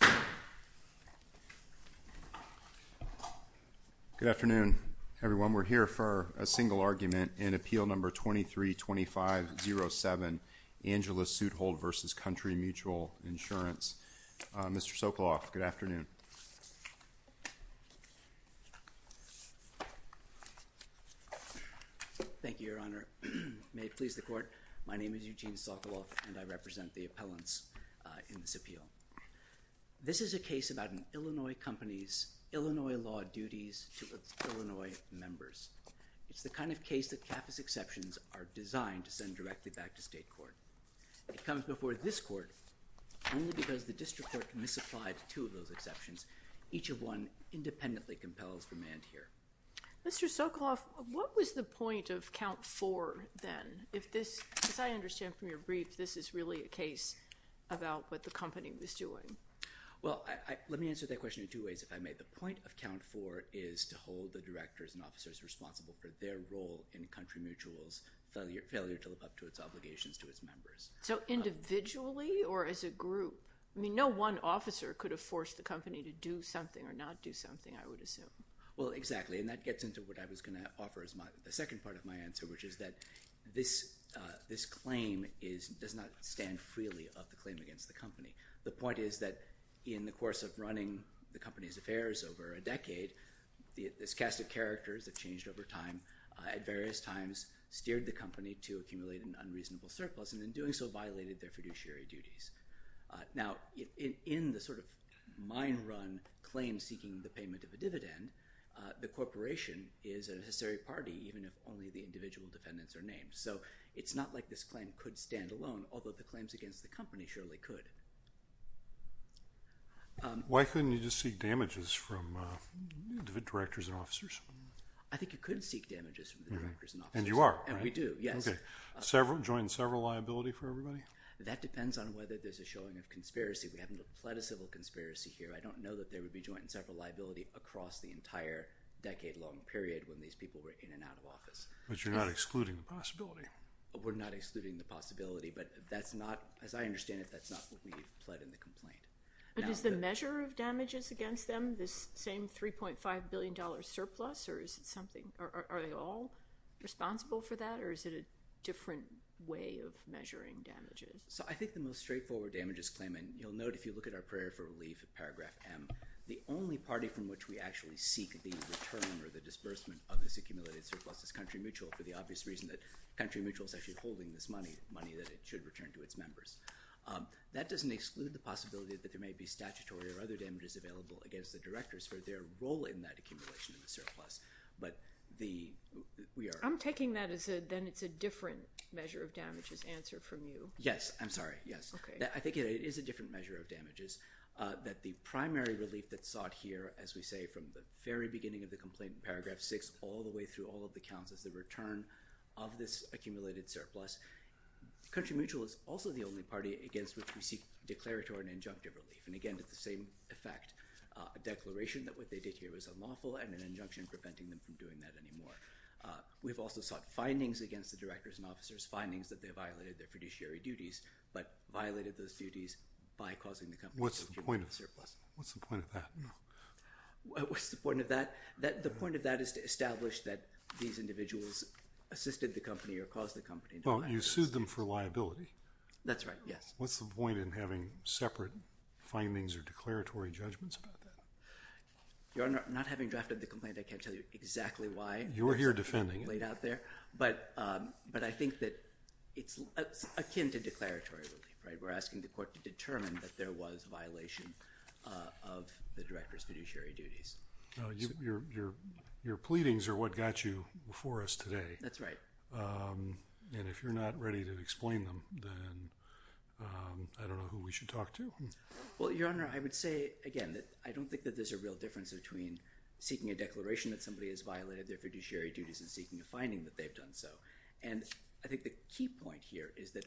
Good afternoon, everyone. We're here for a single argument in Appeal No. 23-2507, Angela Sudholt v. Country Mutual Insurance. Mr. Sokoloff, good afternoon. Thank you, Your Honor. May it please the Court, my name is Eugene Sokoloff and I represent the appellants in this appeal. This is a case about an Illinois company's Illinois law duties to its Illinois members. It's the kind of case that CAFA's exceptions are designed to send directly back to state court. It comes before this court only because the district court can misapply to two of those exceptions. Each of one independently compels remand here. Mr. Sokoloff, what was the point of count four then? As I understand from your brief, this is really a case about what the company was doing. Well, let me answer that question in two ways, if I may. The point of count four is to hold the directors and officers responsible for their role in Country Mutual's failure to live up to its obligations to its members. So individually or as a group? I mean, no one officer could have forced the company to do something or not do something, I would assume. Well, exactly. And that gets into what I was going to offer as the second part of my answer, which is that this claim does not stand freely of the claim against the company. The point is that in the course of running the company's affairs over a decade, this cast of characters that changed over time at various times steered the company to accumulate an unreasonable surplus and in doing so violated their fiduciary duties. Now in the sort of mine run claim seeking the payment of a dividend, the corporation is a necessary party even if only the individual defendants are named. So it's not like this claim could stand alone, although the claims against the company surely could. Why couldn't you just seek damages from directors and officers? I think you could seek damages from the directors and officers. And you are, right? And we do, yes. Okay. Join several liability for everybody? That depends on whether there's a showing of conspiracy. We haven't applied a civil conspiracy here. I don't know that there would be joint and several liability across the same period when these people were in and out of office. But you're not excluding the possibility? We're not excluding the possibility, but that's not, as I understand it, that's not what we've pled in the complaint. But is the measure of damages against them this same $3.5 billion surplus or is it something, are they all responsible for that or is it a different way of measuring damages? So I think the most straightforward damages claim, and you'll note if you look at our the disbursement of this accumulated surplus is Country Mutual for the obvious reason that Country Mutual is actually holding this money, money that it should return to its members. That doesn't exclude the possibility that there may be statutory or other damages available against the directors for their role in that accumulation of the surplus. But the, we are- I'm taking that as a, then it's a different measure of damages answer from you. Yes, I'm sorry. Yes. Okay. I think it is a different measure of damages that the primary relief that's sought here, as we say, from the very beginning of the complaint in paragraph six, all the way through all of the counts as the return of this accumulated surplus. Country Mutual is also the only party against which we seek declaratory and injunctive relief. And again, it's the same effect, a declaration that what they did here was unlawful and an injunction preventing them from doing that anymore. We've also sought findings against the directors and officers, findings that they violated their fiduciary duties, but violated those duties by causing the company's surplus. What's the point of that? What's the point of that? The point of that is to establish that these individuals assisted the company or caused the company. Well, you sued them for liability. That's right. Yes. What's the point in having separate findings or declaratory judgments about that? Your Honor, not having drafted the complaint, I can't tell you exactly why. You're here defending it. It's laid out there. But I think that it's akin to declaratory relief, right? We're asking the court to determine that there was a violation of the director's fiduciary duties. Your pleadings are what got you before us today. That's right. And if you're not ready to explain them, then I don't know who we should talk to. Well, Your Honor, I would say, again, that I don't think that there's a real difference between seeking a declaration that somebody has violated their fiduciary duties and seeking a finding that they've done so. And I think the key point here is that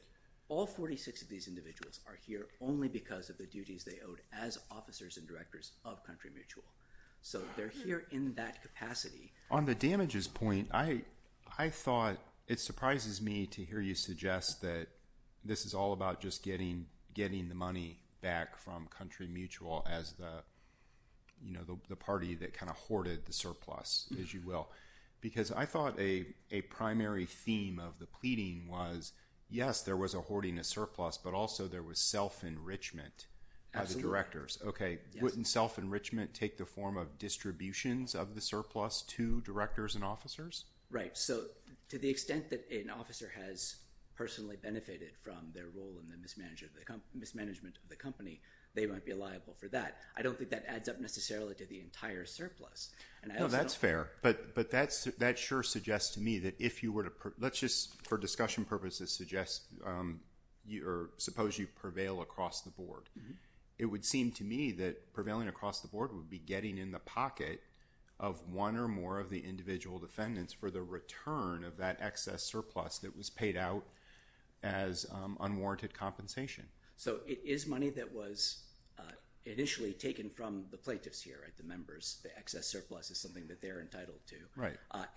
all 46 of these individuals are here only because of the duties they owed as officers and directors of Country Mutual. So they're here in that capacity. On the damages point, I thought it surprises me to hear you suggest that this is all about just getting the money back from Country Mutual as the party that kind of hoarded the surplus, as you will. Because I thought a primary theme of the pleading was, yes, there was a hoarding of surplus, but also there was self-enrichment of the directors. Absolutely. Okay. Wouldn't self-enrichment take the form of distributions of the surplus to directors and officers? Right. So to the extent that an officer has personally benefited from their role in the mismanagement of the company, they might be liable for that. I don't think that adds up necessarily to the entire surplus. No, that's fair. But that sure suggests to me that if you were to... Let's just, for discussion purposes, suggest or suppose you prevail across the board. It would seem to me that prevailing across the board would be getting in the pocket of one or more of the individual defendants for the return of that excess surplus that was paid out as unwarranted compensation. So it is money that was initially taken from the plaintiffs here, the members. The excess surplus is something that they're entitled to.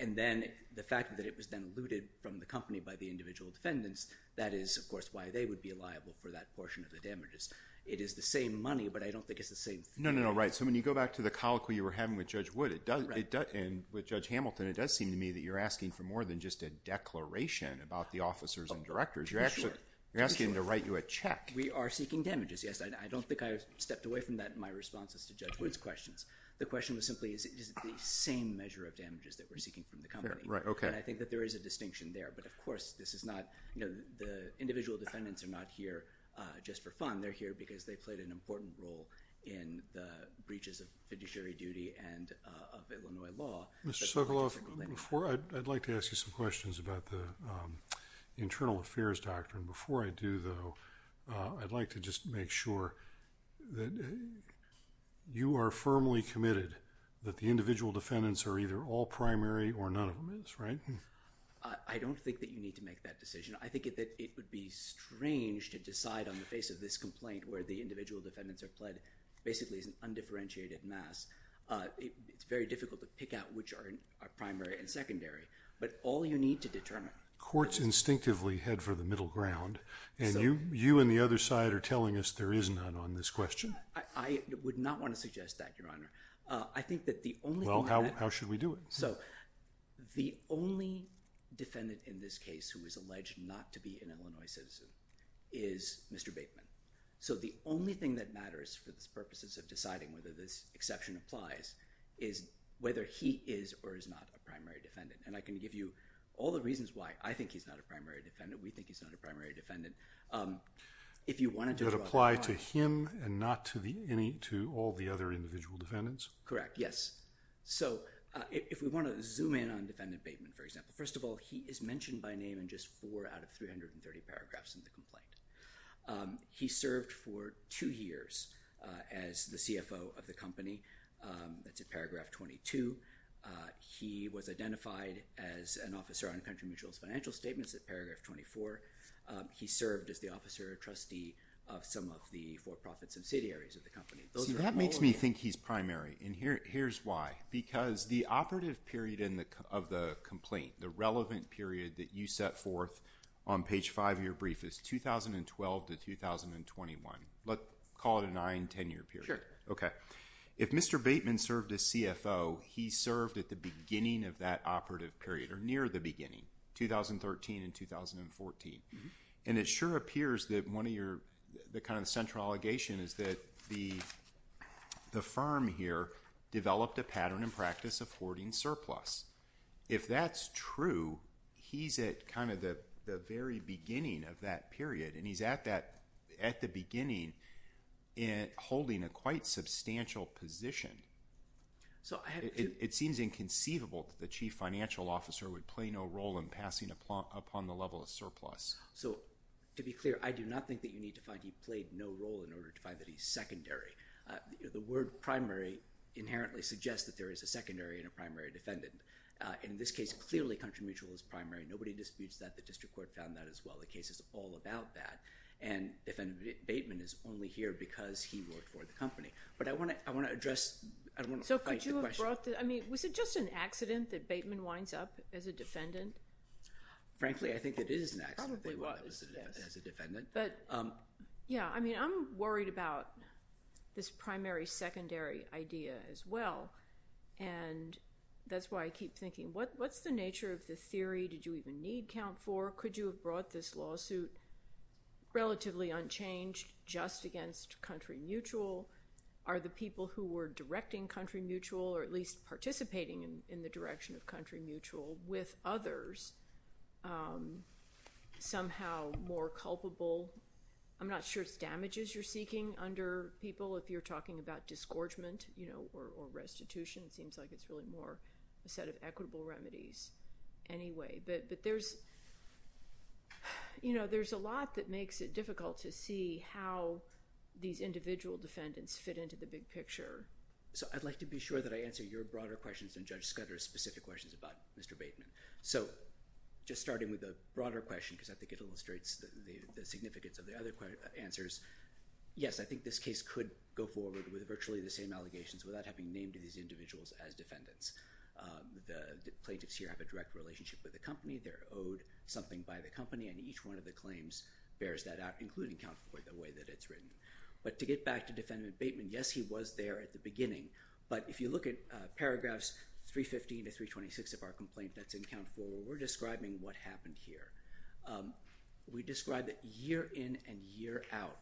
And then the fact that it was then looted from the company by the individual defendants, that is, of course, why they would be liable for that portion of the damages. It is the same money, but I don't think it's the same thing. No, no, no. Right. So when you go back to the colloquy you were having with Judge Wood and with Judge Hamilton, it does seem to me that you're asking for more than just a declaration about the officers and directors. You're asking them to write you a check. We are seeking damages. Yes. I don't think I've stepped away from that in my responses to Judge Wood's questions. The question was simply, is it the same measure of damages that we're seeking from the company? Right. Okay. And I think that there is a distinction there. But, of course, this is not, you know, the individual defendants are not here just for fun. They're here because they played an important role in the breaches of fiduciary duty and of Illinois law. Mr. Sokoloff, before I'd like to ask you some questions about the internal affairs doctrine. Before I do, though, I'd like to just make sure that you are firmly committed that the individual defendants are either all primary or none of them is, right? I don't think that you need to make that decision. I think that it would be strange to decide on the face of this complaint where the individual defendants are pled basically as an undifferentiated mass. It's very difficult to pick out which are primary and secondary. But all you need to determine... And you and the other side are telling us there is none on this question. I would not want to suggest that, Your Honor. I think that the only... Well, how should we do it? So the only defendant in this case who is alleged not to be an Illinois citizen is Mr. Bateman. So the only thing that matters for the purposes of deciding whether this exception applies is whether he is or is not a primary defendant. And I can give you all the reasons why I think he's not a primary defendant, we think he's not a primary defendant. If you wanted to draw... That apply to him and not to all the other individual defendants? Correct. Yes. So if we want to zoom in on defendant Bateman, for example, first of all, he is mentioned by name in just four out of 330 paragraphs in the complaint. He served for two years as the CFO of the company, that's in paragraph 22. He was identified as an officer on country mutual financial statements in paragraph 24. He served as the officer or trustee of some of the for-profit subsidiaries of the company. See, that makes me think he's primary, and here's why. Because the operative period of the complaint, the relevant period that you set forth on page 5 of your brief is 2012 to 2021. Let's call it a 9-10 year period. Sure. 9-10 year. Okay. If Mr. Bateman served as CFO, he served at the beginning of that operative period or near the beginning, 2013 and 2014. And it sure appears that one of your... the kind of central allegation is that the firm here developed a pattern and practice of hoarding surplus. If that's true, he's at kind of the very beginning of that period, and he's at that... at the beginning holding a quite substantial position. It seems inconceivable that the chief financial officer would play no role in passing upon the level of surplus. So to be clear, I do not think that you need to find he played no role in order to find that he's secondary. The word primary inherently suggests that there is a secondary and a primary defendant. In this case, clearly country mutual is primary. Nobody disputes that. The district court found that as well. The case is all about that. And the defendant, Bateman, is only here because he worked for the company. But I want to address... I want to fight the question. So could you have brought... I mean, was it just an accident that Bateman winds up as a defendant? Frankly, I think it is an accident... Probably was, yes.... that he wound up as a defendant. But, yeah, I mean, I'm worried about this primary-secondary idea as well. And that's why I keep thinking, what's the nature of the theory? Did you even need COUNT IV? Or could you have brought this lawsuit relatively unchanged just against country mutual? Are the people who were directing country mutual or at least participating in the direction of country mutual with others somehow more culpable? I'm not sure it's damages you're seeking under people if you're talking about disgorgement, you know, or restitution. It seems like it's really more a set of equitable remedies anyway. But there's... you know, there's a lot that makes it difficult to see how these individual defendants fit into the big picture. So I'd like to be sure that I answer your broader questions than Judge Scudder's specific questions about Mr. Bateman. So just starting with the broader question, because I think it illustrates the significance of the other answers. Yes, I think this case could go forward with virtually the same allegations without having named these individuals as defendants. The plaintiffs here have a direct relationship with the company. They're owed something by the company, and each one of the claims bears that out, including COUNT IV the way that it's written. But to get back to defendant Bateman, yes, he was there at the beginning. But if you look at paragraphs 315 to 326 of our complaint that's in COUNT IV, we're describing what happened here. We describe that year in and year out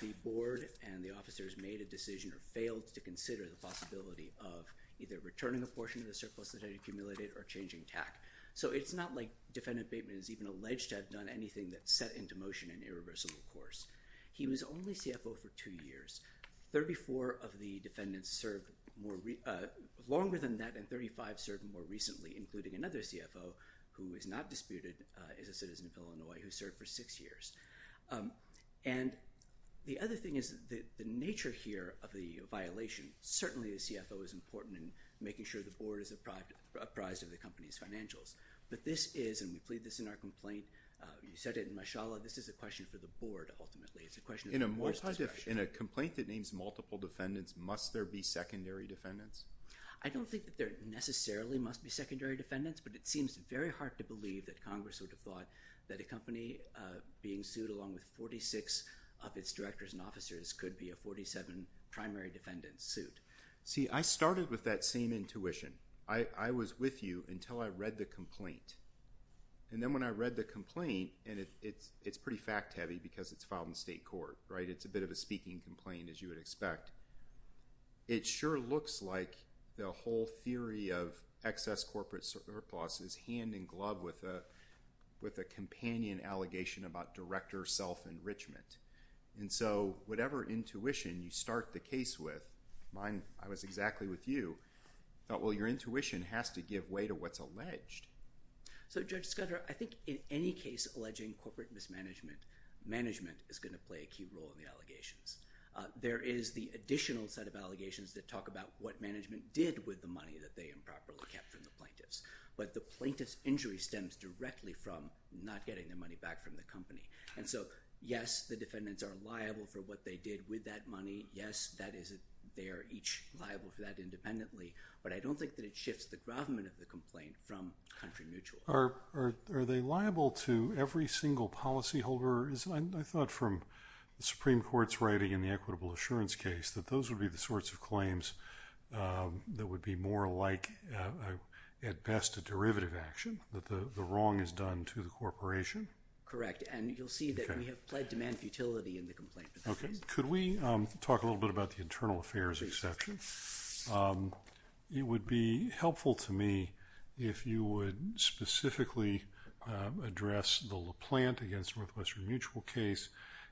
the board and the officers made a decision or failed to consider the possibility of either returning a portion of the surplus that had accumulated or changing TAC. So it's not like defendant Bateman is even alleged to have done anything that set into motion an irreversible course. He was only CFO for two years. Thirty-four of the defendants served longer than that, and 35 served more recently, including another CFO who is not disputed, is a citizen of Illinois, who served for six years. And the other thing is the nature here of the violation, certainly the CFO is important in making sure the board is apprised of the company's financials. But this is, and we plead this in our complaint, you said it in Mashallah, this is a question for the board ultimately. It's a question of the board's discretion. In a complaint that names multiple defendants, must there be secondary defendants? I don't think that there necessarily must be secondary defendants, but it seems very hard to believe that Congress would have thought that a suit along with 46 of its directors and officers could be a 47 primary defendant suit. See, I started with that same intuition. I was with you until I read the complaint. And then when I read the complaint, and it's pretty fact-heavy because it's filed in state court, right? It's a bit of a speaking complaint, as you would expect. It sure looks like the whole theory of excess corporate surplus is hand in hand with director self-enrichment. And so whatever intuition you start the case with, mine, I was exactly with you, I thought, well, your intuition has to give way to what's alleged. So Judge Scudero, I think in any case alleging corporate mismanagement, management is going to play a key role in the allegations. There is the additional set of allegations that talk about what management did with the money that they improperly kept from the plaintiffs. But the plaintiff's injury stems directly from not getting their money back from the company. And so, yes, the defendants are liable for what they did with that money. Yes, they are each liable for that independently. But I don't think that it shifts the government of the complaint from country mutual. Are they liable to every single policyholder? I thought from the Supreme Court's writing in the equitable assurance case that those would be the sorts of claims that would be more like, at best, a derivative action, that the wrong is done to the corporation. Correct. And you'll see that we have pled demand futility in the complaint. Okay. Could we talk a little bit about the internal affairs exception? It would be helpful to me if you would specifically address the LaPlante against Northwestern Mutual case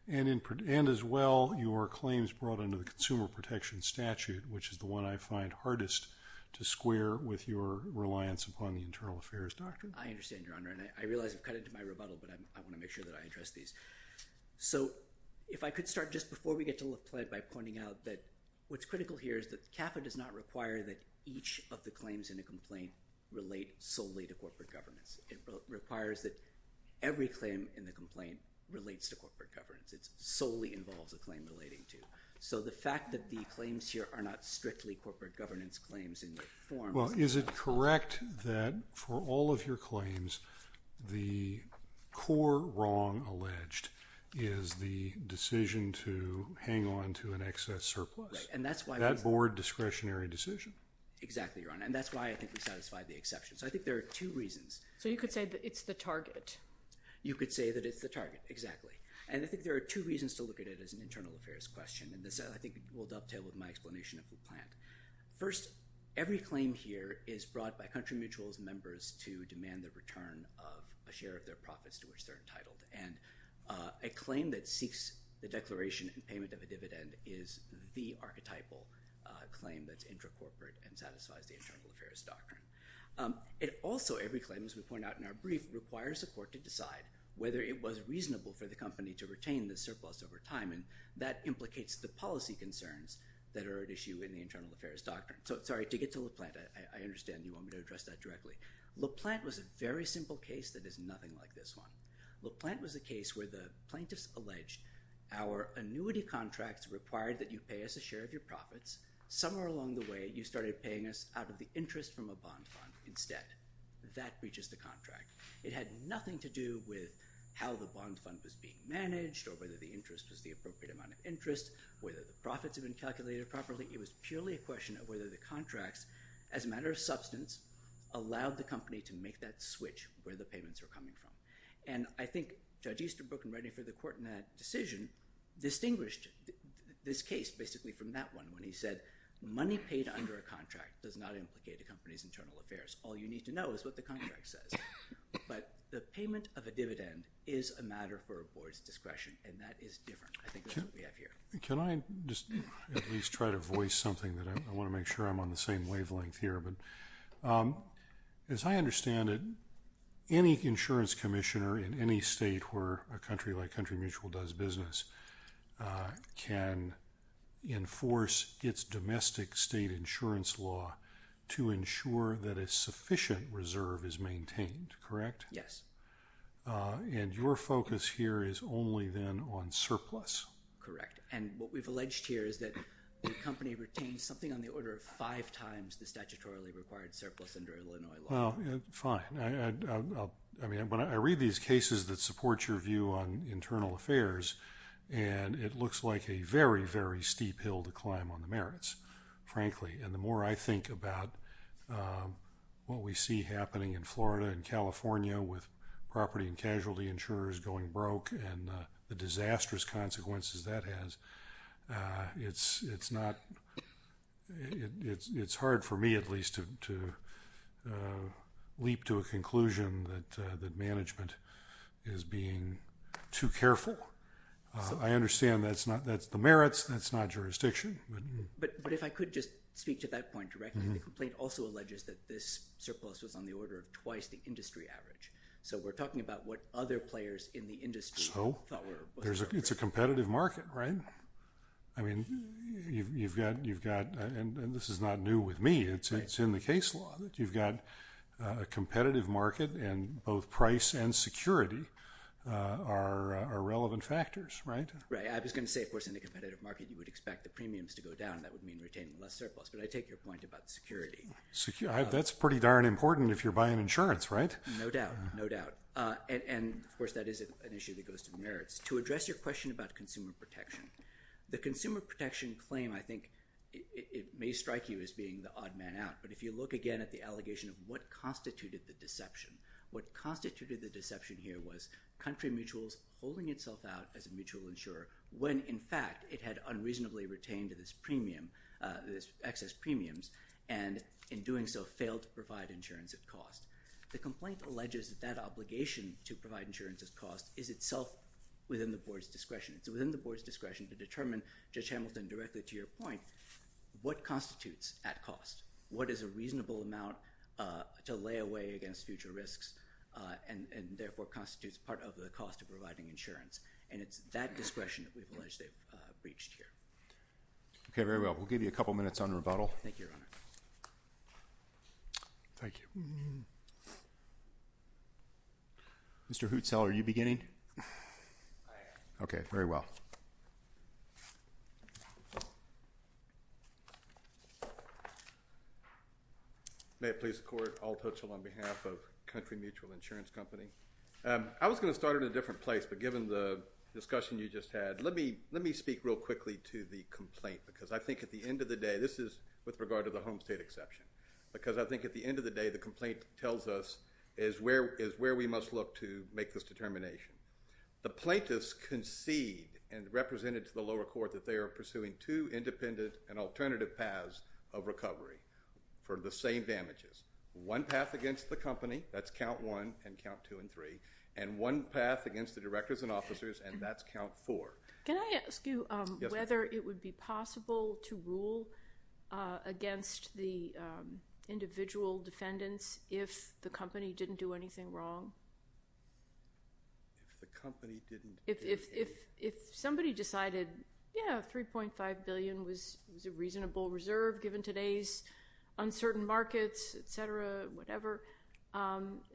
and, as well, your claims brought under the Consumer Protection Statute, which is the one I find hardest to square with your reliance upon the internal affairs doctrine. I understand, Your Honor. And I realize I've cut into my rebuttal, but I want to make sure that I address these. So if I could start just before we get to LaPlante by pointing out that what's critical here is that CAFA does not require that each of the claims in a complaint relate solely to corporate governance. It requires that every claim in the complaint relates to corporate governance. It solely involves a claim relating to. So the fact that the claims here are not strictly corporate governance claims in the form of the LaPlante. Well, is it correct that for all of your claims, the core wrong alleged is the decision to hang on to an excess surplus? Right. And that's why. That board discretionary decision. Exactly, Your Honor. And that's why I think we satisfied the exception. So I think there are two reasons. So you could say that it's the target. You could say that it's the target. Exactly. And I think there are two reasons to look at it as an internal affairs question, and this, I think, will dovetail with my explanation of LaPlante. First, every claim here is brought by country mutuals members to demand the return of a share of their profits to which they're entitled. And a claim that seeks the declaration and payment of a dividend is the archetypal claim that's intracorporate and satisfies the internal affairs doctrine. It also, every claim, as we point out in our brief, requires a court to decide whether it was reasonable for the company to retain the surplus over time, and that implicates the policy concerns that are at issue in the internal affairs doctrine. So, sorry, to get to LaPlante, I understand you want me to address that directly. LaPlante was a very simple case that is nothing like this one. LaPlante was a case where the plaintiffs alleged our annuity contracts required that you pay us a share of your profits. Somewhere along the way, you started paying us out of the interest from a bond fund instead. That breaches the contract. It had nothing to do with how the bond fund was being managed or whether the interest was the appropriate amount of interest, whether the profits had been calculated properly. It was purely a question of whether the contracts, as a matter of substance, allowed the company to make that switch where the payments were coming from. And I think Judge Easterbrook in writing for the court in that decision distinguished this case basically from that one when he said, money paid under a contract does not implicate a company's internal affairs. All you need to know is what the contract says. But the payment of a dividend is a matter for a board's discretion, and that is different. I think that's what we have here. Can I just at least try to voice something? I want to make sure I'm on the same wavelength here. As I understand it, any insurance commissioner in any state where a country like Country Mutual does business can enforce its domestic state insurance law to ensure that a sufficient reserve is maintained, correct? Yes. And your focus here is only then on surplus? Correct. And what we've alleged here is that the company retains something on the order of five times the statutorily required surplus under Illinois law. Well, fine. I read these cases that support your view on internal affairs, and it looks like a very, very steep hill to climb on the merits, frankly. And the more I think about what we see happening in Florida and California with property and casualty insurers going broke and the disastrous consequences that has, it's hard for me at least to leap to a conclusion that management is being too careful. I understand that's the merits, that's not jurisdiction. But if I could just speak to that point directly, the complaint also alleges that this surplus was on the order of twice the average. So we're talking about what other players in the industry thought were a business case. So it's a competitive market, right? I mean, you've got, and this is not new with me, it's in the case law that you've got a competitive market, and both price and security are relevant factors, right? Right. I was going to say, of course, in a competitive market you would expect the premiums to go down. That would mean retaining less surplus. But I take your point about security. That's pretty darn important if you're buying insurance, right? No doubt. No doubt. And, of course, that is an issue that goes to merits. To address your question about consumer protection, the consumer protection claim, I think, it may strike you as being the odd man out. But if you look again at the allegation of what constituted the deception, what constituted the deception here was country mutuals holding itself out as a mutual insurer when, in fact, it had unreasonably retained this premium, this excess premiums, and in doing so failed to provide insurance at cost. The complaint alleges that that obligation to provide insurance at cost is itself within the board's discretion. It's within the board's discretion to determine, Judge Hamilton, directly to your point, what constitutes at cost? What is a reasonable amount to lay away against future risks and, therefore, constitutes part of the cost of providing insurance? And it's that discretion that we've alleged they've breached here. Okay. Very well. We'll give you a couple minutes on rebuttal. Thank you, Your Honor. Thank you. Mr. Hootsell, are you beginning? I am. Okay. Very well. May it please the Court, Alt Hootsell on behalf of Country Mutual Insurance Company. I was going to start at a different place, but given the discussion you just had, let me speak real quickly to the complaint because I think at the end of the day, this is with regard to the home state exception, because I think at the end of the day the complaint tells us is where we must look to make this determination. The plaintiffs concede and represented to the lower court that they are pursuing two independent and alternative paths of recovery for the same damages, one path against the company, that's count one and count two and three, and one path against the directors and officers, and that's count four. Can I ask you whether it would be possible to rule against the individual defendants if the company didn't do anything wrong? If the company didn't do anything? If somebody decided, yeah, $3.5 billion was a reasonable reserve given today's uncertain markets, et cetera, whatever,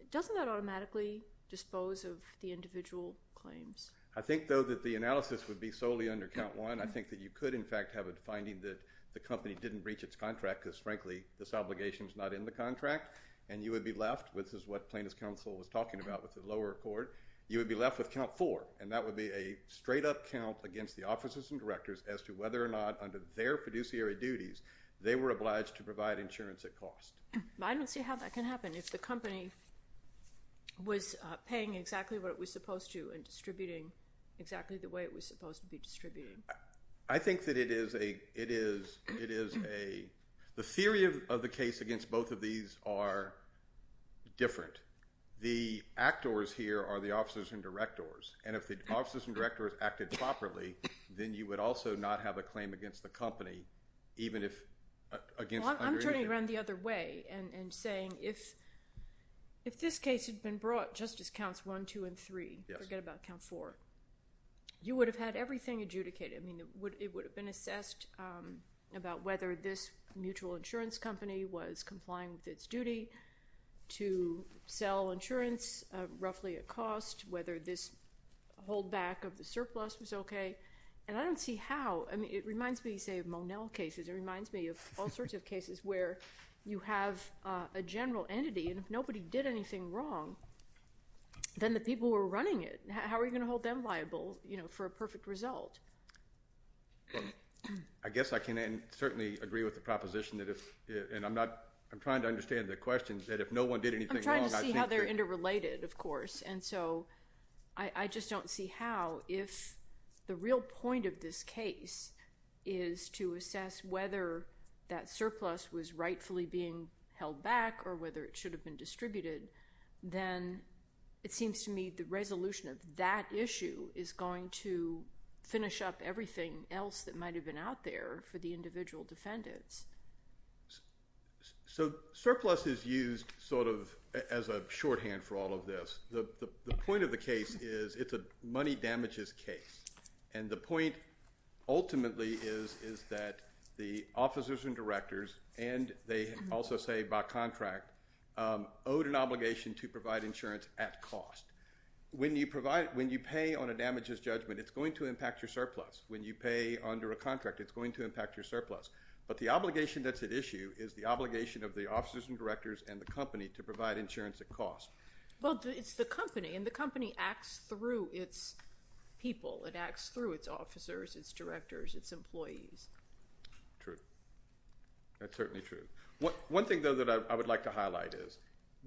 doesn't that automatically dispose of the individual claims? I think, though, that the analysis would be solely under count one. I think that you could, in fact, have a finding that the company didn't breach its contract because, frankly, this obligation is not in the contract, and you would be left, which is what plaintiff's counsel was talking about with the lower court, you would be left with count four, and that would be a straight-up count against the officers and directors as to whether or not under their fiduciary duties they were obliged to provide insurance at cost. I don't see how that can happen. If the company was paying exactly what it was supposed to and distributing exactly the way it was supposed to be distributing. I think that it is a— the theory of the case against both of these are different. The actors here are the officers and directors, and if the officers and directors acted properly, then you would also not have a claim against the company even if against under anything. I'm turning around the other way and saying if this case had been brought just as counts one, two, and three, forget about count four, you would have had everything adjudicated. I mean, it would have been assessed about whether this mutual insurance company was complying with its duty to sell insurance roughly at cost, whether this holdback of the surplus was okay, and I don't see how. I mean, it reminds me, say, of Monell cases. It reminds me of all sorts of cases where you have a general entity, and if nobody did anything wrong, then the people who are running it, how are you going to hold them liable for a perfect result? I guess I can certainly agree with the proposition that if— and I'm trying to understand the question, that if no one did anything wrong— I'm trying to see how they're interrelated, of course, and so I just don't see how if the real point of this case is to assess whether that surplus was rightfully being held back or whether it should have been distributed, then it seems to me the resolution of that issue is going to finish up everything else that might have been out there for the individual defendants. So surplus is used sort of as a shorthand for all of this. The point of the case is it's a money damages case, and the point ultimately is that the officers and directors, and they also say by contract, owed an obligation to provide insurance at cost. When you pay on a damages judgment, it's going to impact your surplus. When you pay under a contract, it's going to impact your surplus. But the obligation that's at issue is the obligation of the officers and directors and the company to provide insurance at cost. Well, it's the company, and the company acts through its people. It acts through its officers, its directors, its employees. True. That's certainly true. One thing, though, that I would like to highlight is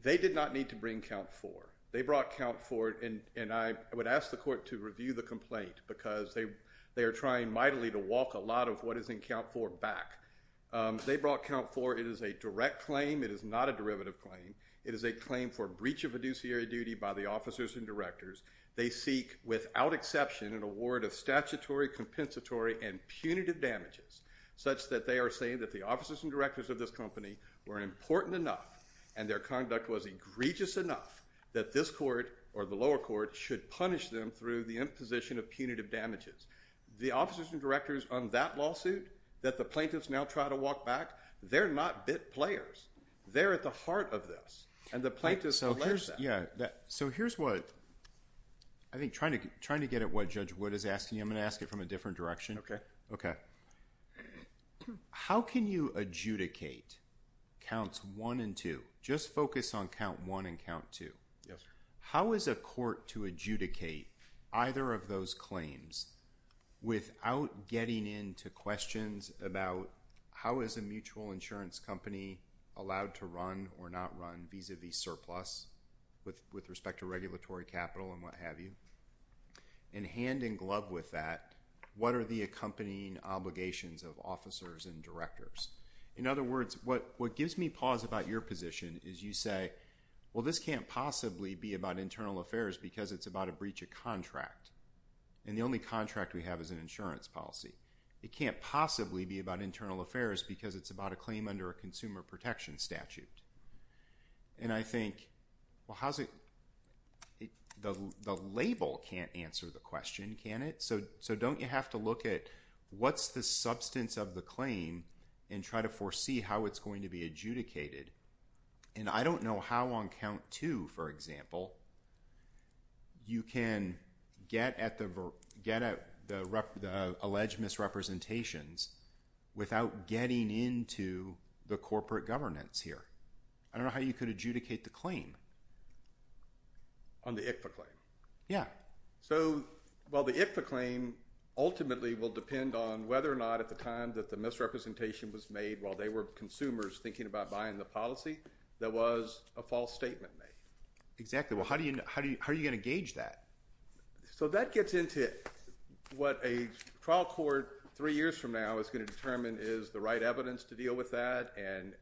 they did not need to bring Count 4. They brought Count 4, and I would ask the court to review the complaint because they are trying mightily to walk a lot of what is in Count 4 back. They brought Count 4. It is a direct claim. It is not a derivative claim. It is a claim for breach of fiduciary duty by the officers and directors. They seek, without exception, an award of statutory, compensatory, and punitive damages such that they are saying that the officers and directors of this company were important enough and their conduct was egregious enough that this court or the lower court should punish them through the imposition of punitive damages. The officers and directors on that lawsuit that the plaintiffs now try to walk back, they're not bit players. They're at the heart of this, and the plaintiffs alleged that. So here's what I think trying to get at what Judge Wood is asking, and I'm going to ask it from a different direction. How can you adjudicate Counts 1 and 2? Just focus on Count 1 and Count 2. How is a court to adjudicate either of those claims without getting into questions about how is a mutual insurance company allowed to run or not run vis-à-vis surplus with respect to regulatory capital and what have you, and hand in glove with that, what are the accompanying obligations of officers and directors? In other words, what gives me pause about your position is you say, well, this can't possibly be about internal affairs because it's about a breach of contract, and the only contract we have is an insurance policy. It can't possibly be about internal affairs because it's about a claim under a consumer protection statute. And I think, well, the label can't answer the question, can it? So don't you have to look at what's the substance of the claim and try to foresee how it's going to be adjudicated? And I don't know how on Count 2, for example, you can get at the alleged misrepresentations without getting into the corporate governance here. I don't know how you could adjudicate the claim. On the ICFA claim? Yeah. So, well, the ICFA claim ultimately will depend on whether or not at the time that the misrepresentation was made while they were consumers thinking about buying the policy there was a false statement made. Exactly. Well, how are you going to gauge that? So that gets into what a trial court three years from now is going to determine is the right evidence to deal with that and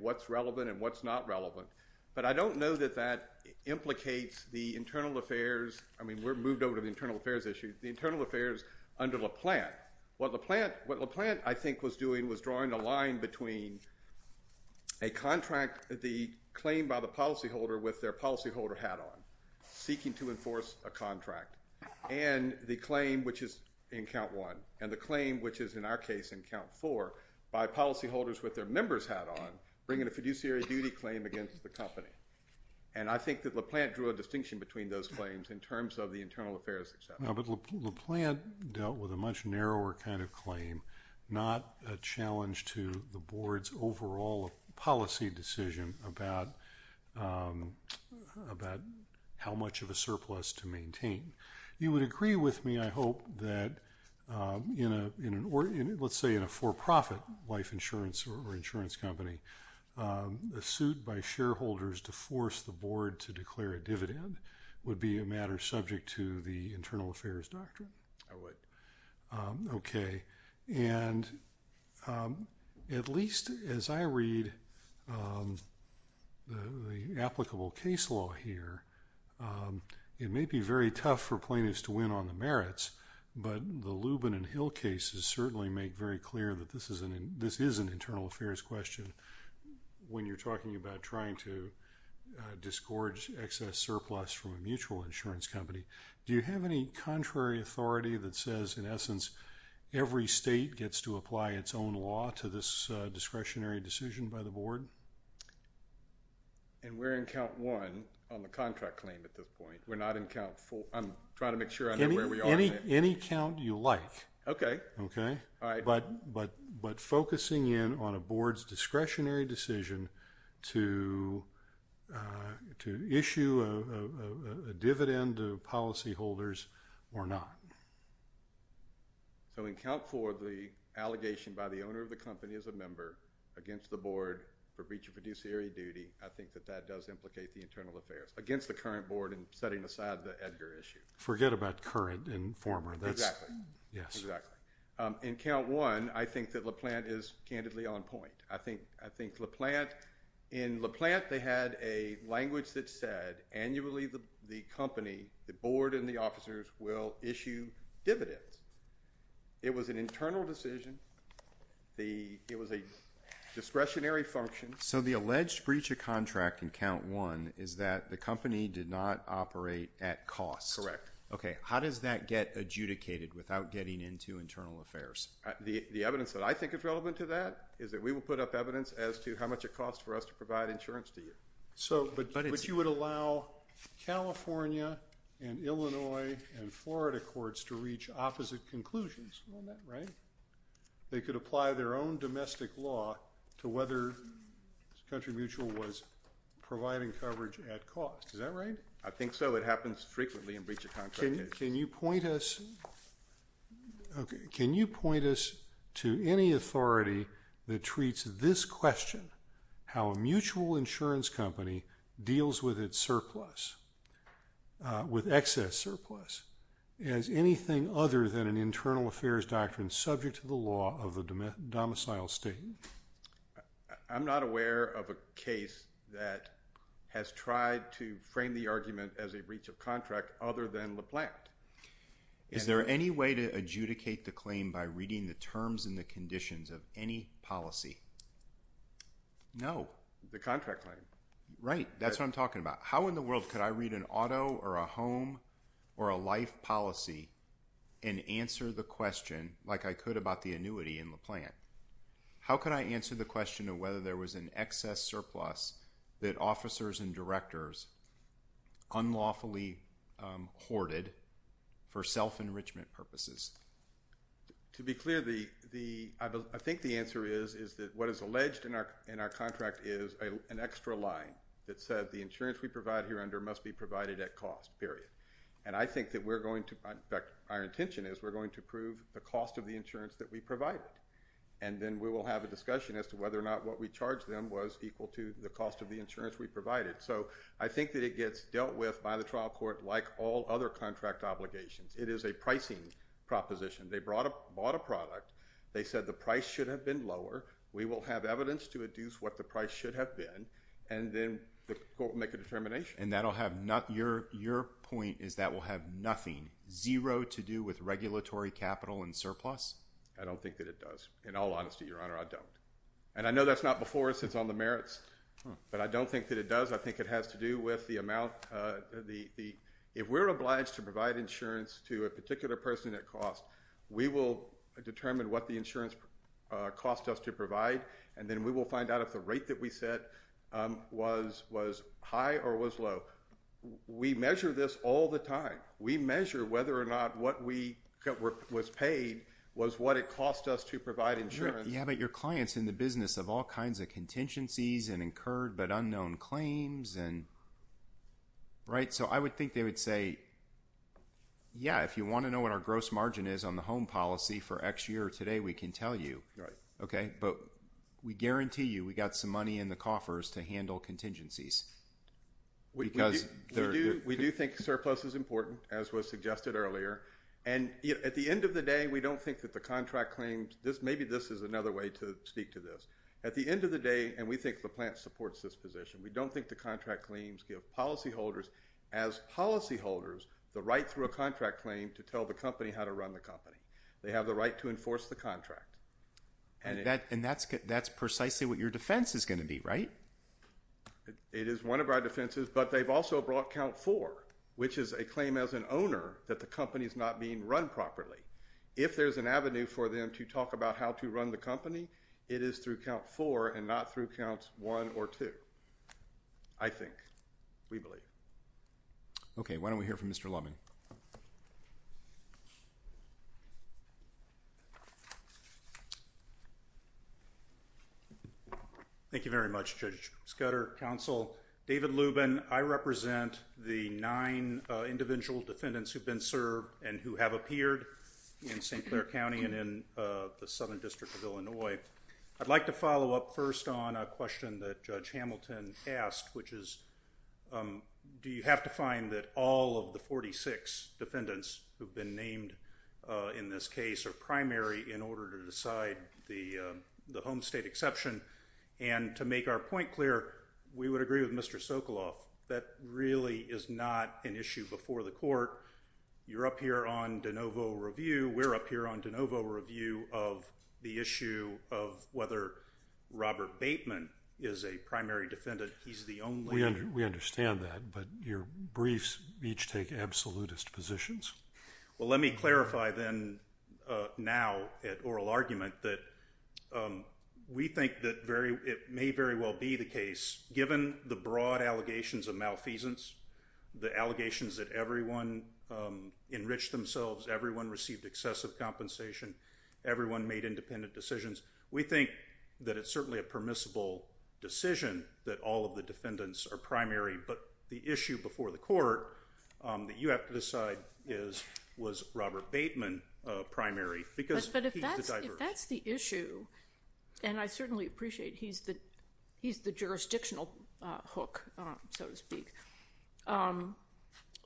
what's relevant and what's not relevant. But I don't know that that implicates the internal affairs. I mean, we've moved over to the internal affairs issue. The internal affairs under LaPlante. What LaPlante, I think, was doing was drawing a line between a contract, the claim by the policyholder with their policyholder hat on, seeking to enforce a contract, and the claim, which is in count one, and the claim, which is in our case in count four, by policyholders with their members hat on bringing a fiduciary duty claim against the company. And I think that LaPlante drew a distinction between those claims in terms of the internal affairs. No, but LaPlante dealt with a much narrower kind of claim, not a challenge to the board's overall policy decision about how much of a surplus to maintain. You would agree with me, I hope, that in a for-profit life insurance or insurance company, a suit by shareholders to force the board to declare a dividend would be a matter subject to the internal affairs doctrine? I would. Okay. And at least as I read the applicable case law here, it may be very tough for plaintiffs to win on the merits, but the Lubin and Hill cases certainly make very clear that this is an internal affairs question when you're talking about trying to disgorge excess surplus from a mutual insurance company. Do you have any contrary authority that says, in essence, every state gets to apply its own law to this discretionary decision by the board? And we're in count one on the contract claim at this point. We're not in count four. I'm trying to make sure I know where we are. Okay. Okay? All right. But focusing in on a board's discretionary decision to issue a dividend to policyholders or not? So in count four, the allegation by the owner of the company as a member against the board for breach of fiduciary duty, I think that that does implicate the internal affairs, against the current board and setting aside the Edgar issue. Forget about current and former. Exactly. Yes. Exactly. In count one, I think that LaPlante is candidly on point. I think LaPlante, in LaPlante they had a language that said, annually the company, the board, and the officers will issue dividends. It was an internal decision. It was a discretionary function. So the alleged breach of contract in count one is that the company did not operate at cost. Correct. Okay. How does that get adjudicated without getting into internal affairs? The evidence that I think is relevant to that is that we will put up evidence as to how much it costs for us to provide insurance to you. But you would allow California and Illinois and Florida courts to reach opposite conclusions. Isn't that right? They could apply their own domestic law to whether Country Mutual was providing coverage at cost. Is that right? I think so. It happens frequently in breach of contract cases. Can you point us to any authority that treats this question, how a mutual insurance company deals with its surplus, with excess surplus, as anything other than an internal affairs doctrine subject to the law of the domicile state? I'm not aware of a case that has tried to frame the argument as a breach of contract other than LaPlante. Is there any way to adjudicate the claim by reading the terms and the conditions of any policy? No. The contract claim. Right. That's what I'm talking about. How in the world could I read an auto or a home or a life policy and answer the question like I could about the annuity in LaPlante? How can I answer the question of whether there was an excess surplus that officers and directors unlawfully hoarded for self-enrichment purposes? To be clear, I think the answer is that what is alleged in our contract is an extra line that said the insurance we provide here under must be provided at cost, period. And I think that we're going to, in fact our intention is, we're going to prove the cost of the insurance that we provided. And then we will have a discussion as to whether or not what we charged them was equal to the cost of the insurance we provided. So I think that it gets dealt with by the trial court like all other contract obligations. It is a pricing proposition. They bought a product. They said the price should have been lower. We will have evidence to adduce what the price should have been. And then the court will make a determination. And your point is that will have nothing, zero, to do with regulatory capital and surplus? I don't think that it does. In all honesty, Your Honor, I don't. And I know that's not before us. It's on the merits. But I don't think that it does. I think it has to do with the amount. If we're obliged to provide insurance to a particular person at cost, we will determine what the insurance cost us to provide, and then we will find out if the rate that we set was high or was low. We measure this all the time. We measure whether or not what was paid was what it cost us to provide insurance. Yeah, but your client's in the business of all kinds of contingencies and incurred but unknown claims. So I would think they would say, yeah, if you want to know what our gross margin is on the home policy for X year or today, we can tell you. But we guarantee you we got some money in the coffers to handle contingencies. We do think surplus is important, as was suggested earlier. And at the end of the day, we don't think that the contract claims, maybe this is another way to speak to this. At the end of the day, and we think LaPlante supports this position, we don't think the contract claims give policyholders, as policyholders, the right through a contract claim to tell the company how to run the company. They have the right to enforce the contract. And that's precisely what your defense is going to be, right? It is one of our defenses, but they've also brought count four, which is a claim as an owner that the company is not being run properly. If there's an avenue for them to talk about how to run the company, it is through count four and not through counts one or two. I think, we believe. Okay, why don't we hear from Mr. Lubman? Thank you. Thank you very much, Judge Scudder. Counsel, David Lubin, I represent the nine individual defendants who've been served and who have appeared in St. Clair County and in the Southern District of Illinois. I'd like to follow up first on a question that Judge Hamilton asked, which is, do you have to find that all of the 46 defendants who've been named in this case are primary in order to decide the home state exception? And to make our point clear, we would agree with Mr. Sokoloff, that really is not an issue before the court. You're up here on de novo review. We're up here on de novo review of the issue of whether Robert Bateman is a primary defendant. He's the only one. We understand that, but your briefs each take absolutist positions. Well, let me clarify then now at oral argument that we think that it may very well be the case, given the broad allegations of malfeasance, the allegations that everyone enriched themselves, everyone received excessive compensation, everyone made independent decisions, we think that it's certainly a permissible decision that all of the defendants are primary. But the issue before the court that you have to decide is, was Robert Bateman primary? But if that's the issue, and I certainly appreciate he's the jurisdictional hook, so to speak,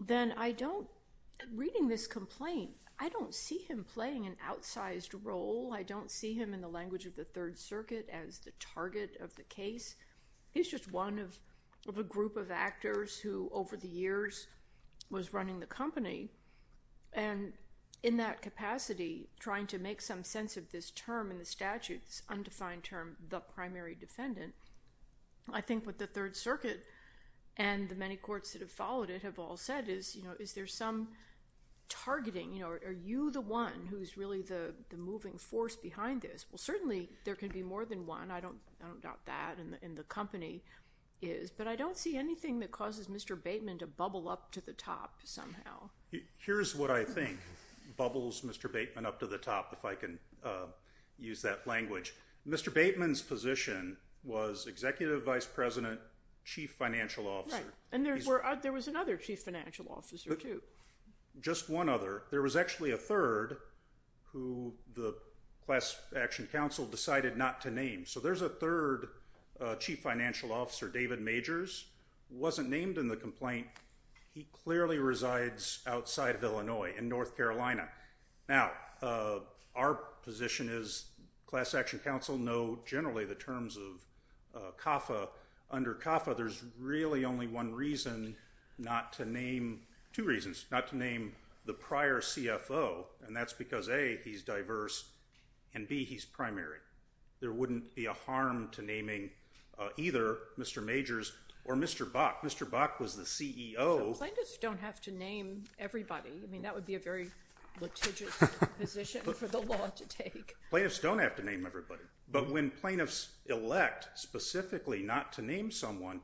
then I don't, reading this complaint, I don't see him playing an outsized role. I don't see him, in the language of the Third Circuit, as the target of the case. He's just one of a group of actors who, over the years, was running the company. And in that capacity, trying to make some sense of this term in the statute, this undefined term, the primary defendant, I think what the Third Circuit and the many courts that have followed it have all said is, you know, is there some targeting? You know, are you the one who's really the moving force behind this? Well, certainly there can be more than one. I don't doubt that, and the company is. But I don't see anything that causes Mr. Bateman to bubble up to the top somehow. Here's what I think bubbles Mr. Bateman up to the top, if I can use that language. Mr. Bateman's position was executive vice president, chief financial officer. Right. And there was another chief financial officer, too. Just one other. There was actually a third who the class action council decided not to name. So there's a third chief financial officer, David Majors, wasn't named in the complaint. He clearly resides outside of Illinois, in North Carolina. Now, our position is class action council know generally the terms of CAFA. Under CAFA, there's really only one reason not to name, two reasons, not to name the prior CFO, and that's because, A, he's diverse, and, B, he's primary. There wouldn't be a harm to naming either Mr. Majors or Mr. Bach. Mr. Bach was the CEO. Plaintiffs don't have to name everybody. I mean, that would be a very litigious position for the law to take. Plaintiffs don't have to name everybody. But when plaintiffs elect specifically not to name someone,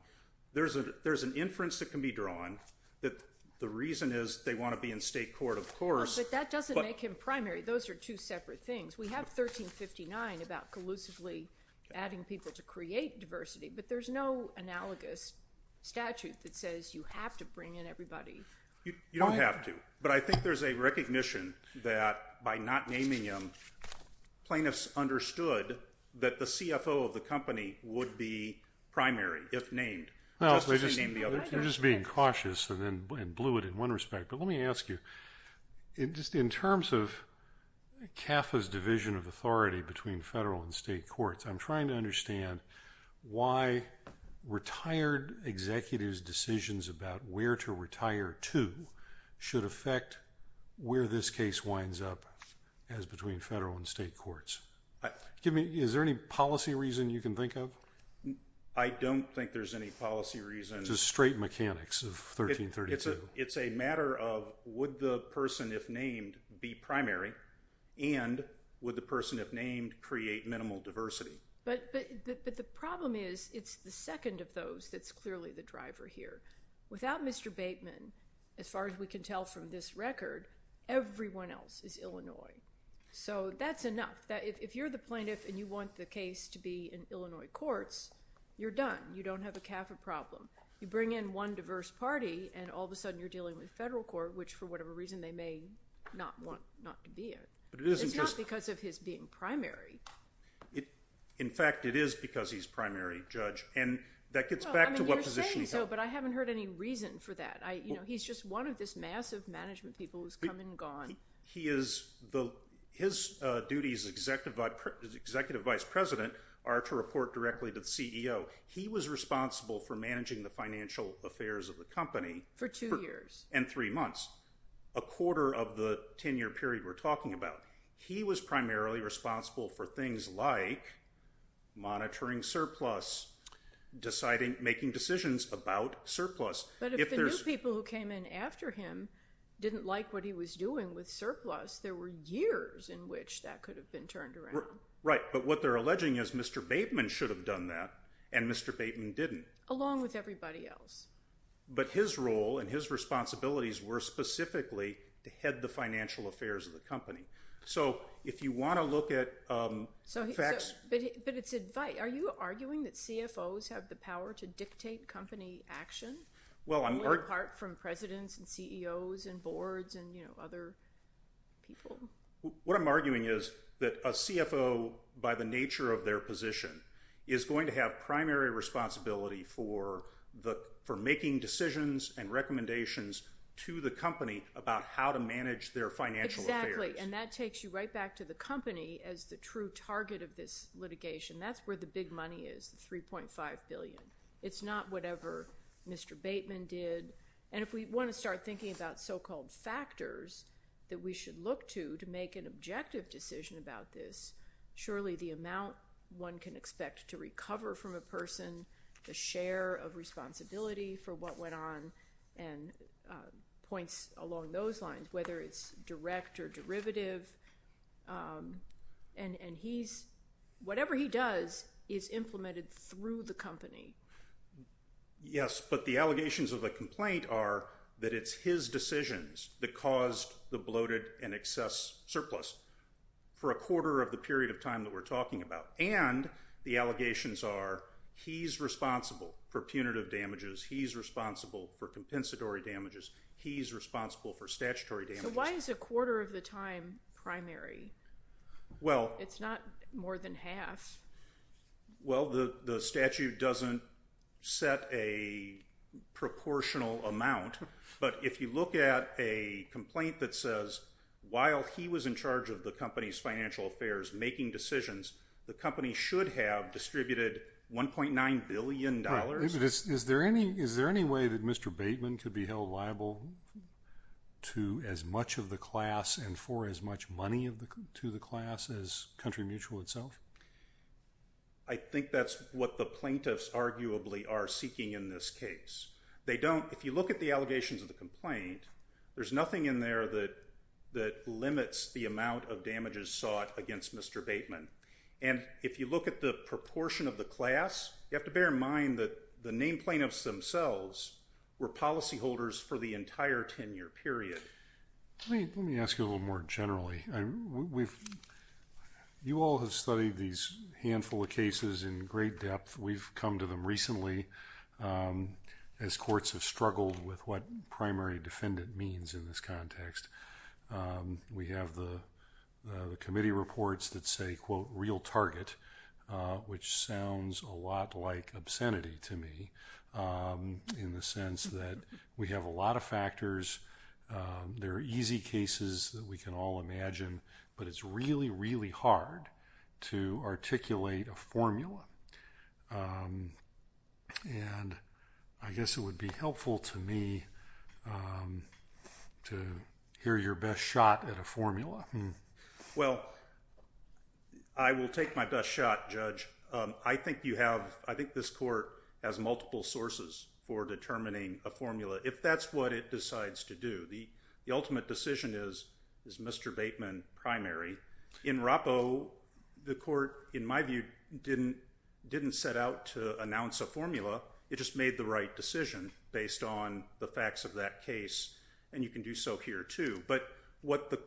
there's an inference that can be drawn that the reason is they want to be in state court, of course. But that doesn't make him primary. Those are two separate things. We have 1359 about collusively adding people to create diversity, but there's no analogous statute that says you have to bring in everybody. You don't have to. But I think there's a recognition that by not naming him, plaintiffs understood that the CFO of the company would be primary, if named, just as they named the others. You're just being cautious and blew it in one respect. But let me ask you, just in terms of CAFA's division of authority between federal and state courts, I'm trying to understand why retired executives' decisions about where to retire to should affect where this case winds up, as between federal and state courts. Is there any policy reason you can think of? I don't think there's any policy reason. Just straight mechanics of 1332. It's a matter of would the person, if named, be primary? And would the person, if named, create minimal diversity? But the problem is it's the second of those that's clearly the driver here. Without Mr. Bateman, as far as we can tell from this record, everyone else is Illinois. So that's enough. If you're the plaintiff and you want the case to be in Illinois courts, you're done. You don't have a CAFA problem. You bring in one diverse party, and all of a sudden you're dealing with federal court, which for whatever reason they may not want not to be in. It's not because of his being primary. In fact, it is because he's primary, Judge. And that gets back to what position he held. You're saying so, but I haven't heard any reason for that. He's just one of this massive management people who's come and gone. His duties as Executive Vice President are to report directly to the CEO. He was responsible for managing the financial affairs of the company. For two years. And three months. A quarter of the 10-year period we're talking about. He was primarily responsible for things like monitoring surplus, making decisions about surplus. But if the new people who came in after him didn't like what he was doing with surplus, there were years in which that could have been turned around. Right. But what they're alleging is Mr. Bateman should have done that, and Mr. Bateman didn't. Along with everybody else. But his role and his responsibilities were specifically to head the financial affairs of the company. So if you want to look at facts. But it's advice. Are you arguing that CFOs have the power to dictate company action, apart from presidents and CEOs and boards and other people? What I'm arguing is that a CFO, by the nature of their position, is going to have primary responsibility for making decisions and recommendations to the company about how to manage their financial affairs. Exactly, and that takes you right back to the company as the true target of this litigation. That's where the big money is, the $3.5 billion. It's not whatever Mr. Bateman did. And if we want to start thinking about so-called factors that we should look to to make an objective decision about this, surely the amount one can expect to recover from a person, the share of responsibility for what went on, points along those lines, whether it's direct or derivative. And whatever he does is implemented through the company. Yes, but the allegations of the complaint are that it's his decisions that caused the bloated and excess surplus for a quarter of the period of time that we're talking about. And the allegations are he's responsible for punitive damages, he's responsible for compensatory damages, he's responsible for statutory damages. So why is a quarter of the time primary? It's not more than half. Well, the statute doesn't set a proportional amount, but if you look at a complaint that says, while he was in charge of the company's financial affairs making decisions, the company should have distributed $1.9 billion. Is there any way that Mr. Bateman could be held liable to as much of the class and for as much money to the class as Country Mutual itself? I think that's what the plaintiffs arguably are seeking in this case. If you look at the allegations of the complaint, there's nothing in there that limits the amount of damages sought against Mr. Bateman. And if you look at the proportion of the class, you have to bear in mind that the named plaintiffs themselves were policyholders for the entire 10-year period. Let me ask you a little more generally. You all have studied these handful of cases in great depth. We've come to them recently as courts have struggled with what primary defendant means in this context. We have the committee reports that say, quote, real target, which sounds a lot like obscenity to me in the sense that we have a lot of factors. There are easy cases that we can all imagine, but it's really, really hard to articulate a formula. And I guess it would be helpful to me to hear your best shot at a formula. Well, I will take my best shot, Judge. I think this court has multiple sources for determining a formula if that's what it decides to do. The ultimate decision is Mr. Bateman primary. In Rappo, the court, in my view, didn't set out to announce a formula. It just made the right decision based on the facts of that case, and you can do so here too. But what the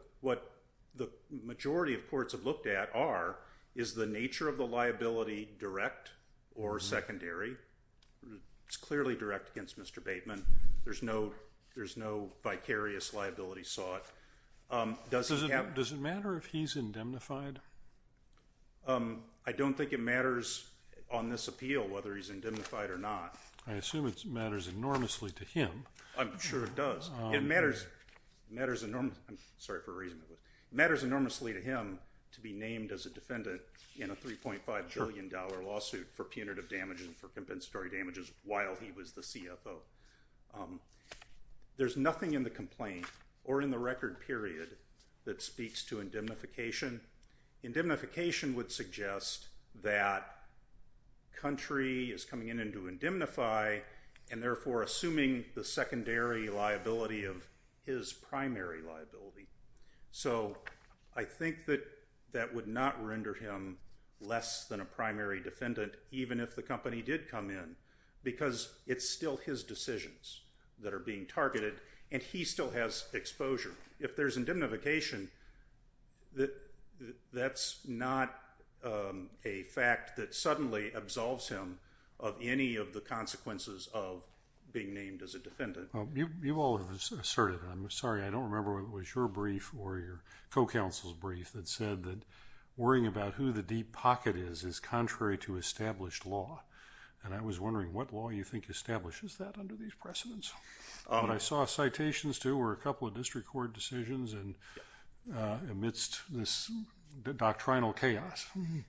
majority of courts have looked at are, is the nature of the liability direct or secondary? It's clearly direct against Mr. Bateman. There's no vicarious liability sought. Does it matter if he's indemnified? I don't think it matters on this appeal whether he's indemnified or not. I assume it matters enormously to him. I'm sure it does. It matters enormously to him to be named as a defendant in a $3.5 billion lawsuit for punitive damages and for compensatory damages while he was the CFO. There's nothing in the complaint or in the record period that speaks to indemnification. Indemnification would suggest that country is coming in to indemnify and therefore assuming the secondary liability of his primary liability. So I think that that would not render him less than a primary defendant even if the company did come in because it's still his decisions that are being targeted, and he still has exposure. If there's indemnification, that's not a fact that suddenly absolves him of any of the consequences of being named as a defendant. You all have asserted, and I'm sorry, I don't remember whether it was your brief or your co-counsel's brief, that said that worrying about who the deep pocket is is contrary to established law. And I was wondering what law you think establishes that under these precedents. What I saw citations to were a couple of district court decisions amidst this doctrinal chaos.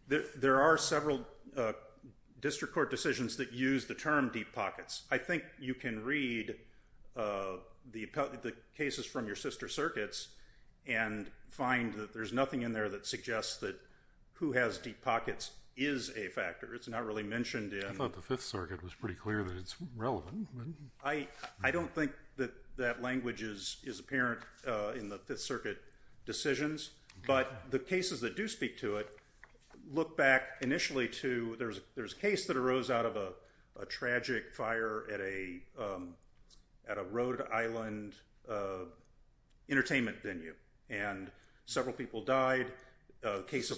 There are several district court decisions that use the term deep pockets. I think you can read the cases from your sister circuits and find that there's nothing in there that suggests that who has deep pockets is a factor. It's not really mentioned in- I thought the Fifth Circuit was pretty clear that it's relevant. I don't think that that language is apparent in the Fifth Circuit decisions, but the cases that do speak to it look back initially to- there's a case that arose out of a tragic fire at a Rhode Island entertainment venue, and several people died. This is a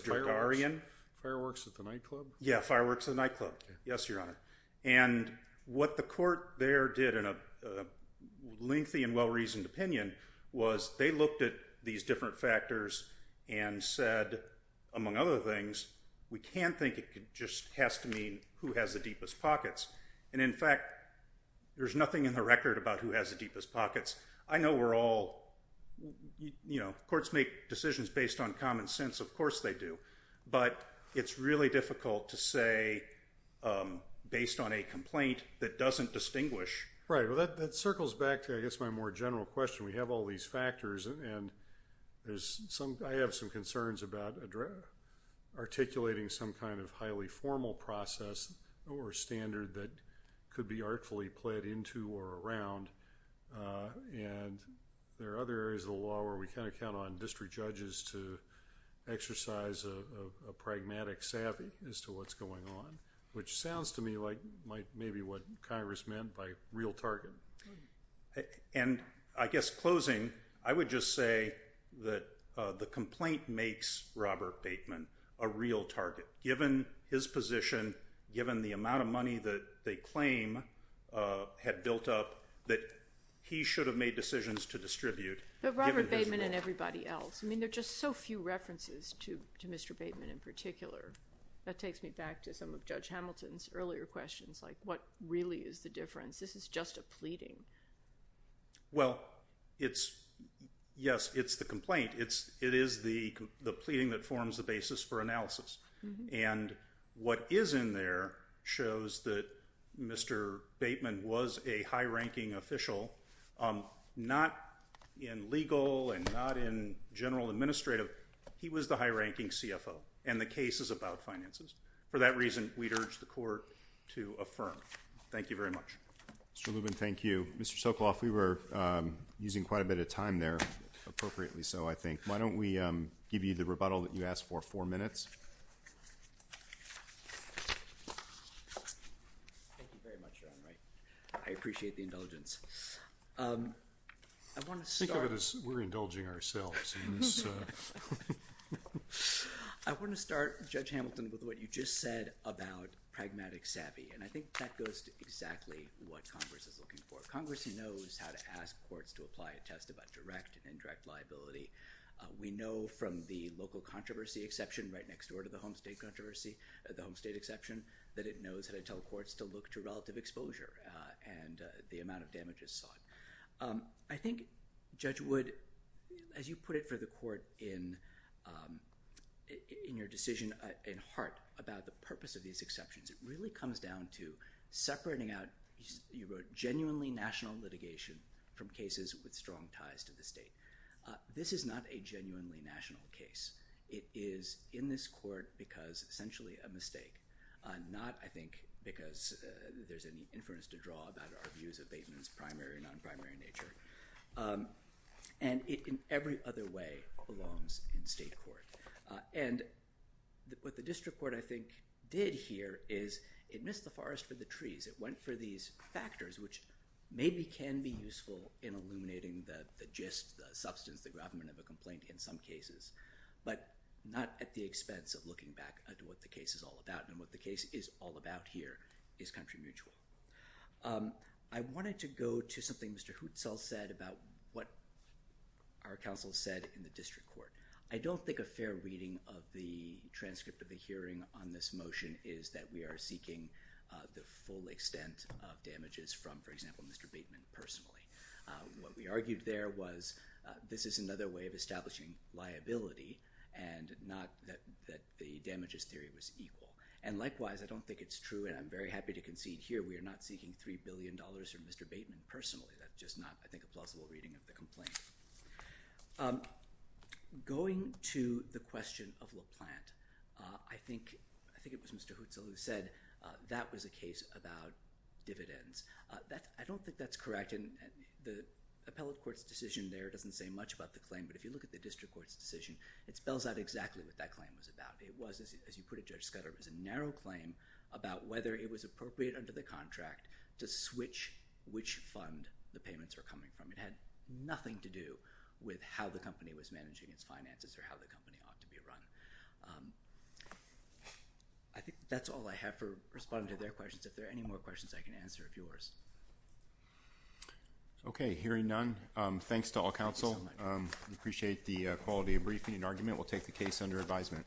fireworks at the nightclub? Yeah, fireworks at the nightclub. Yes, Your Honor. And what the court there did in a lengthy and well-reasoned opinion was they looked at these different factors and said, among other things, we can't think it just has to mean who has the deepest pockets. And in fact, there's nothing in the record about who has the deepest pockets. I know we're all- you know, courts make decisions based on common sense. Of course they do. But it's really difficult to say based on a complaint that doesn't distinguish. Right. Well, that circles back to, I guess, my more general question. We have all these factors, and I have some concerns about articulating some kind of highly formal process or standard that could be artfully played into or around. And there are other areas of the law where we kind of count on district judges to exercise a pragmatic savvy as to what's going on, which sounds to me like maybe what Congress meant by real target. And I guess closing, I would just say that the complaint makes Robert Bateman a real target. Given his position, given the amount of money that they claim had built up, that he should have made decisions to distribute. But Robert Bateman and everybody else. I mean, there are just so few references to Mr. Bateman in particular. That takes me back to some of Judge Hamilton's earlier questions, like what really is the difference? This is just a pleading. Well, yes, it's the complaint. It is the pleading that forms the basis for analysis. And what is in there shows that Mr. Bateman was a high-ranking official, not in legal and not in general administrative. He was the high-ranking CFO, and the case is about finances. For that reason, we'd urge the Court to affirm. Thank you very much. Mr. Lubin, thank you. Mr. Sokoloff, we were using quite a bit of time there, appropriately so, I think. Why don't we give you the rebuttal that you asked for, four minutes. Thank you very much, Your Honor. I appreciate the indulgence. Think of it as we're indulging ourselves. I want to start, Judge Hamilton, with what you just said about pragmatic savvy. And I think that goes to exactly what Congress is looking for. Congress knows how to ask courts to apply a test about direct and indirect liability. We know from the local controversy exception right next door to the home state exception that it knows how to tell courts to look to relative exposure and the amount of damages sought. I think, Judge Wood, as you put it for the Court in your decision at heart about the purpose of these exceptions, it really comes down to separating out, you wrote, genuinely national litigation from cases with strong ties to the state. This is not a genuinely national case. It is in this court because, essentially, a mistake. Not, I think, because there's any inference to draw about our views of Bateman's primary and non-primary nature. And it, in every other way, belongs in state court. And what the district court, I think, did here is it missed the forest for the trees. It went for these factors, which maybe can be useful in illuminating the gist, the substance, the gravamen of a complaint in some cases, but not at the expense of looking back at what the case is all about. And what the case is all about here is country mutual. I wanted to go to something Mr. Hutzel said about what our counsel said in the district court. I don't think a fair reading of the transcript of the hearing on this motion is that we are seeking the full extent of damages from, for example, Mr. Bateman personally. What we argued there was this is another way of establishing liability and not that the damages theory was equal. And likewise, I don't think it's true, and I'm very happy to concede here, we are not seeking $3 billion from Mr. Bateman personally. That's just not, I think, a plausible reading of the complaint. Going to the question of LaPlante, I think it was Mr. Hutzel who said that was a case about dividends. I don't think that's correct, and the appellate court's decision there doesn't say much about the claim, but if you look at the district court's decision, it spells out exactly what that claim was about. It was, as you put it, Judge Scudder, it was a narrow claim about whether it was appropriate under the contract to switch which fund the payments were coming from. It had nothing to do with how the company was managing its finances or how the company ought to be run. I think that's all I have for responding to their questions. If there are any more questions, I can answer a few more. Okay, hearing none, thanks to all counsel. We appreciate the quality of briefing and argument. We'll take the case under advisement.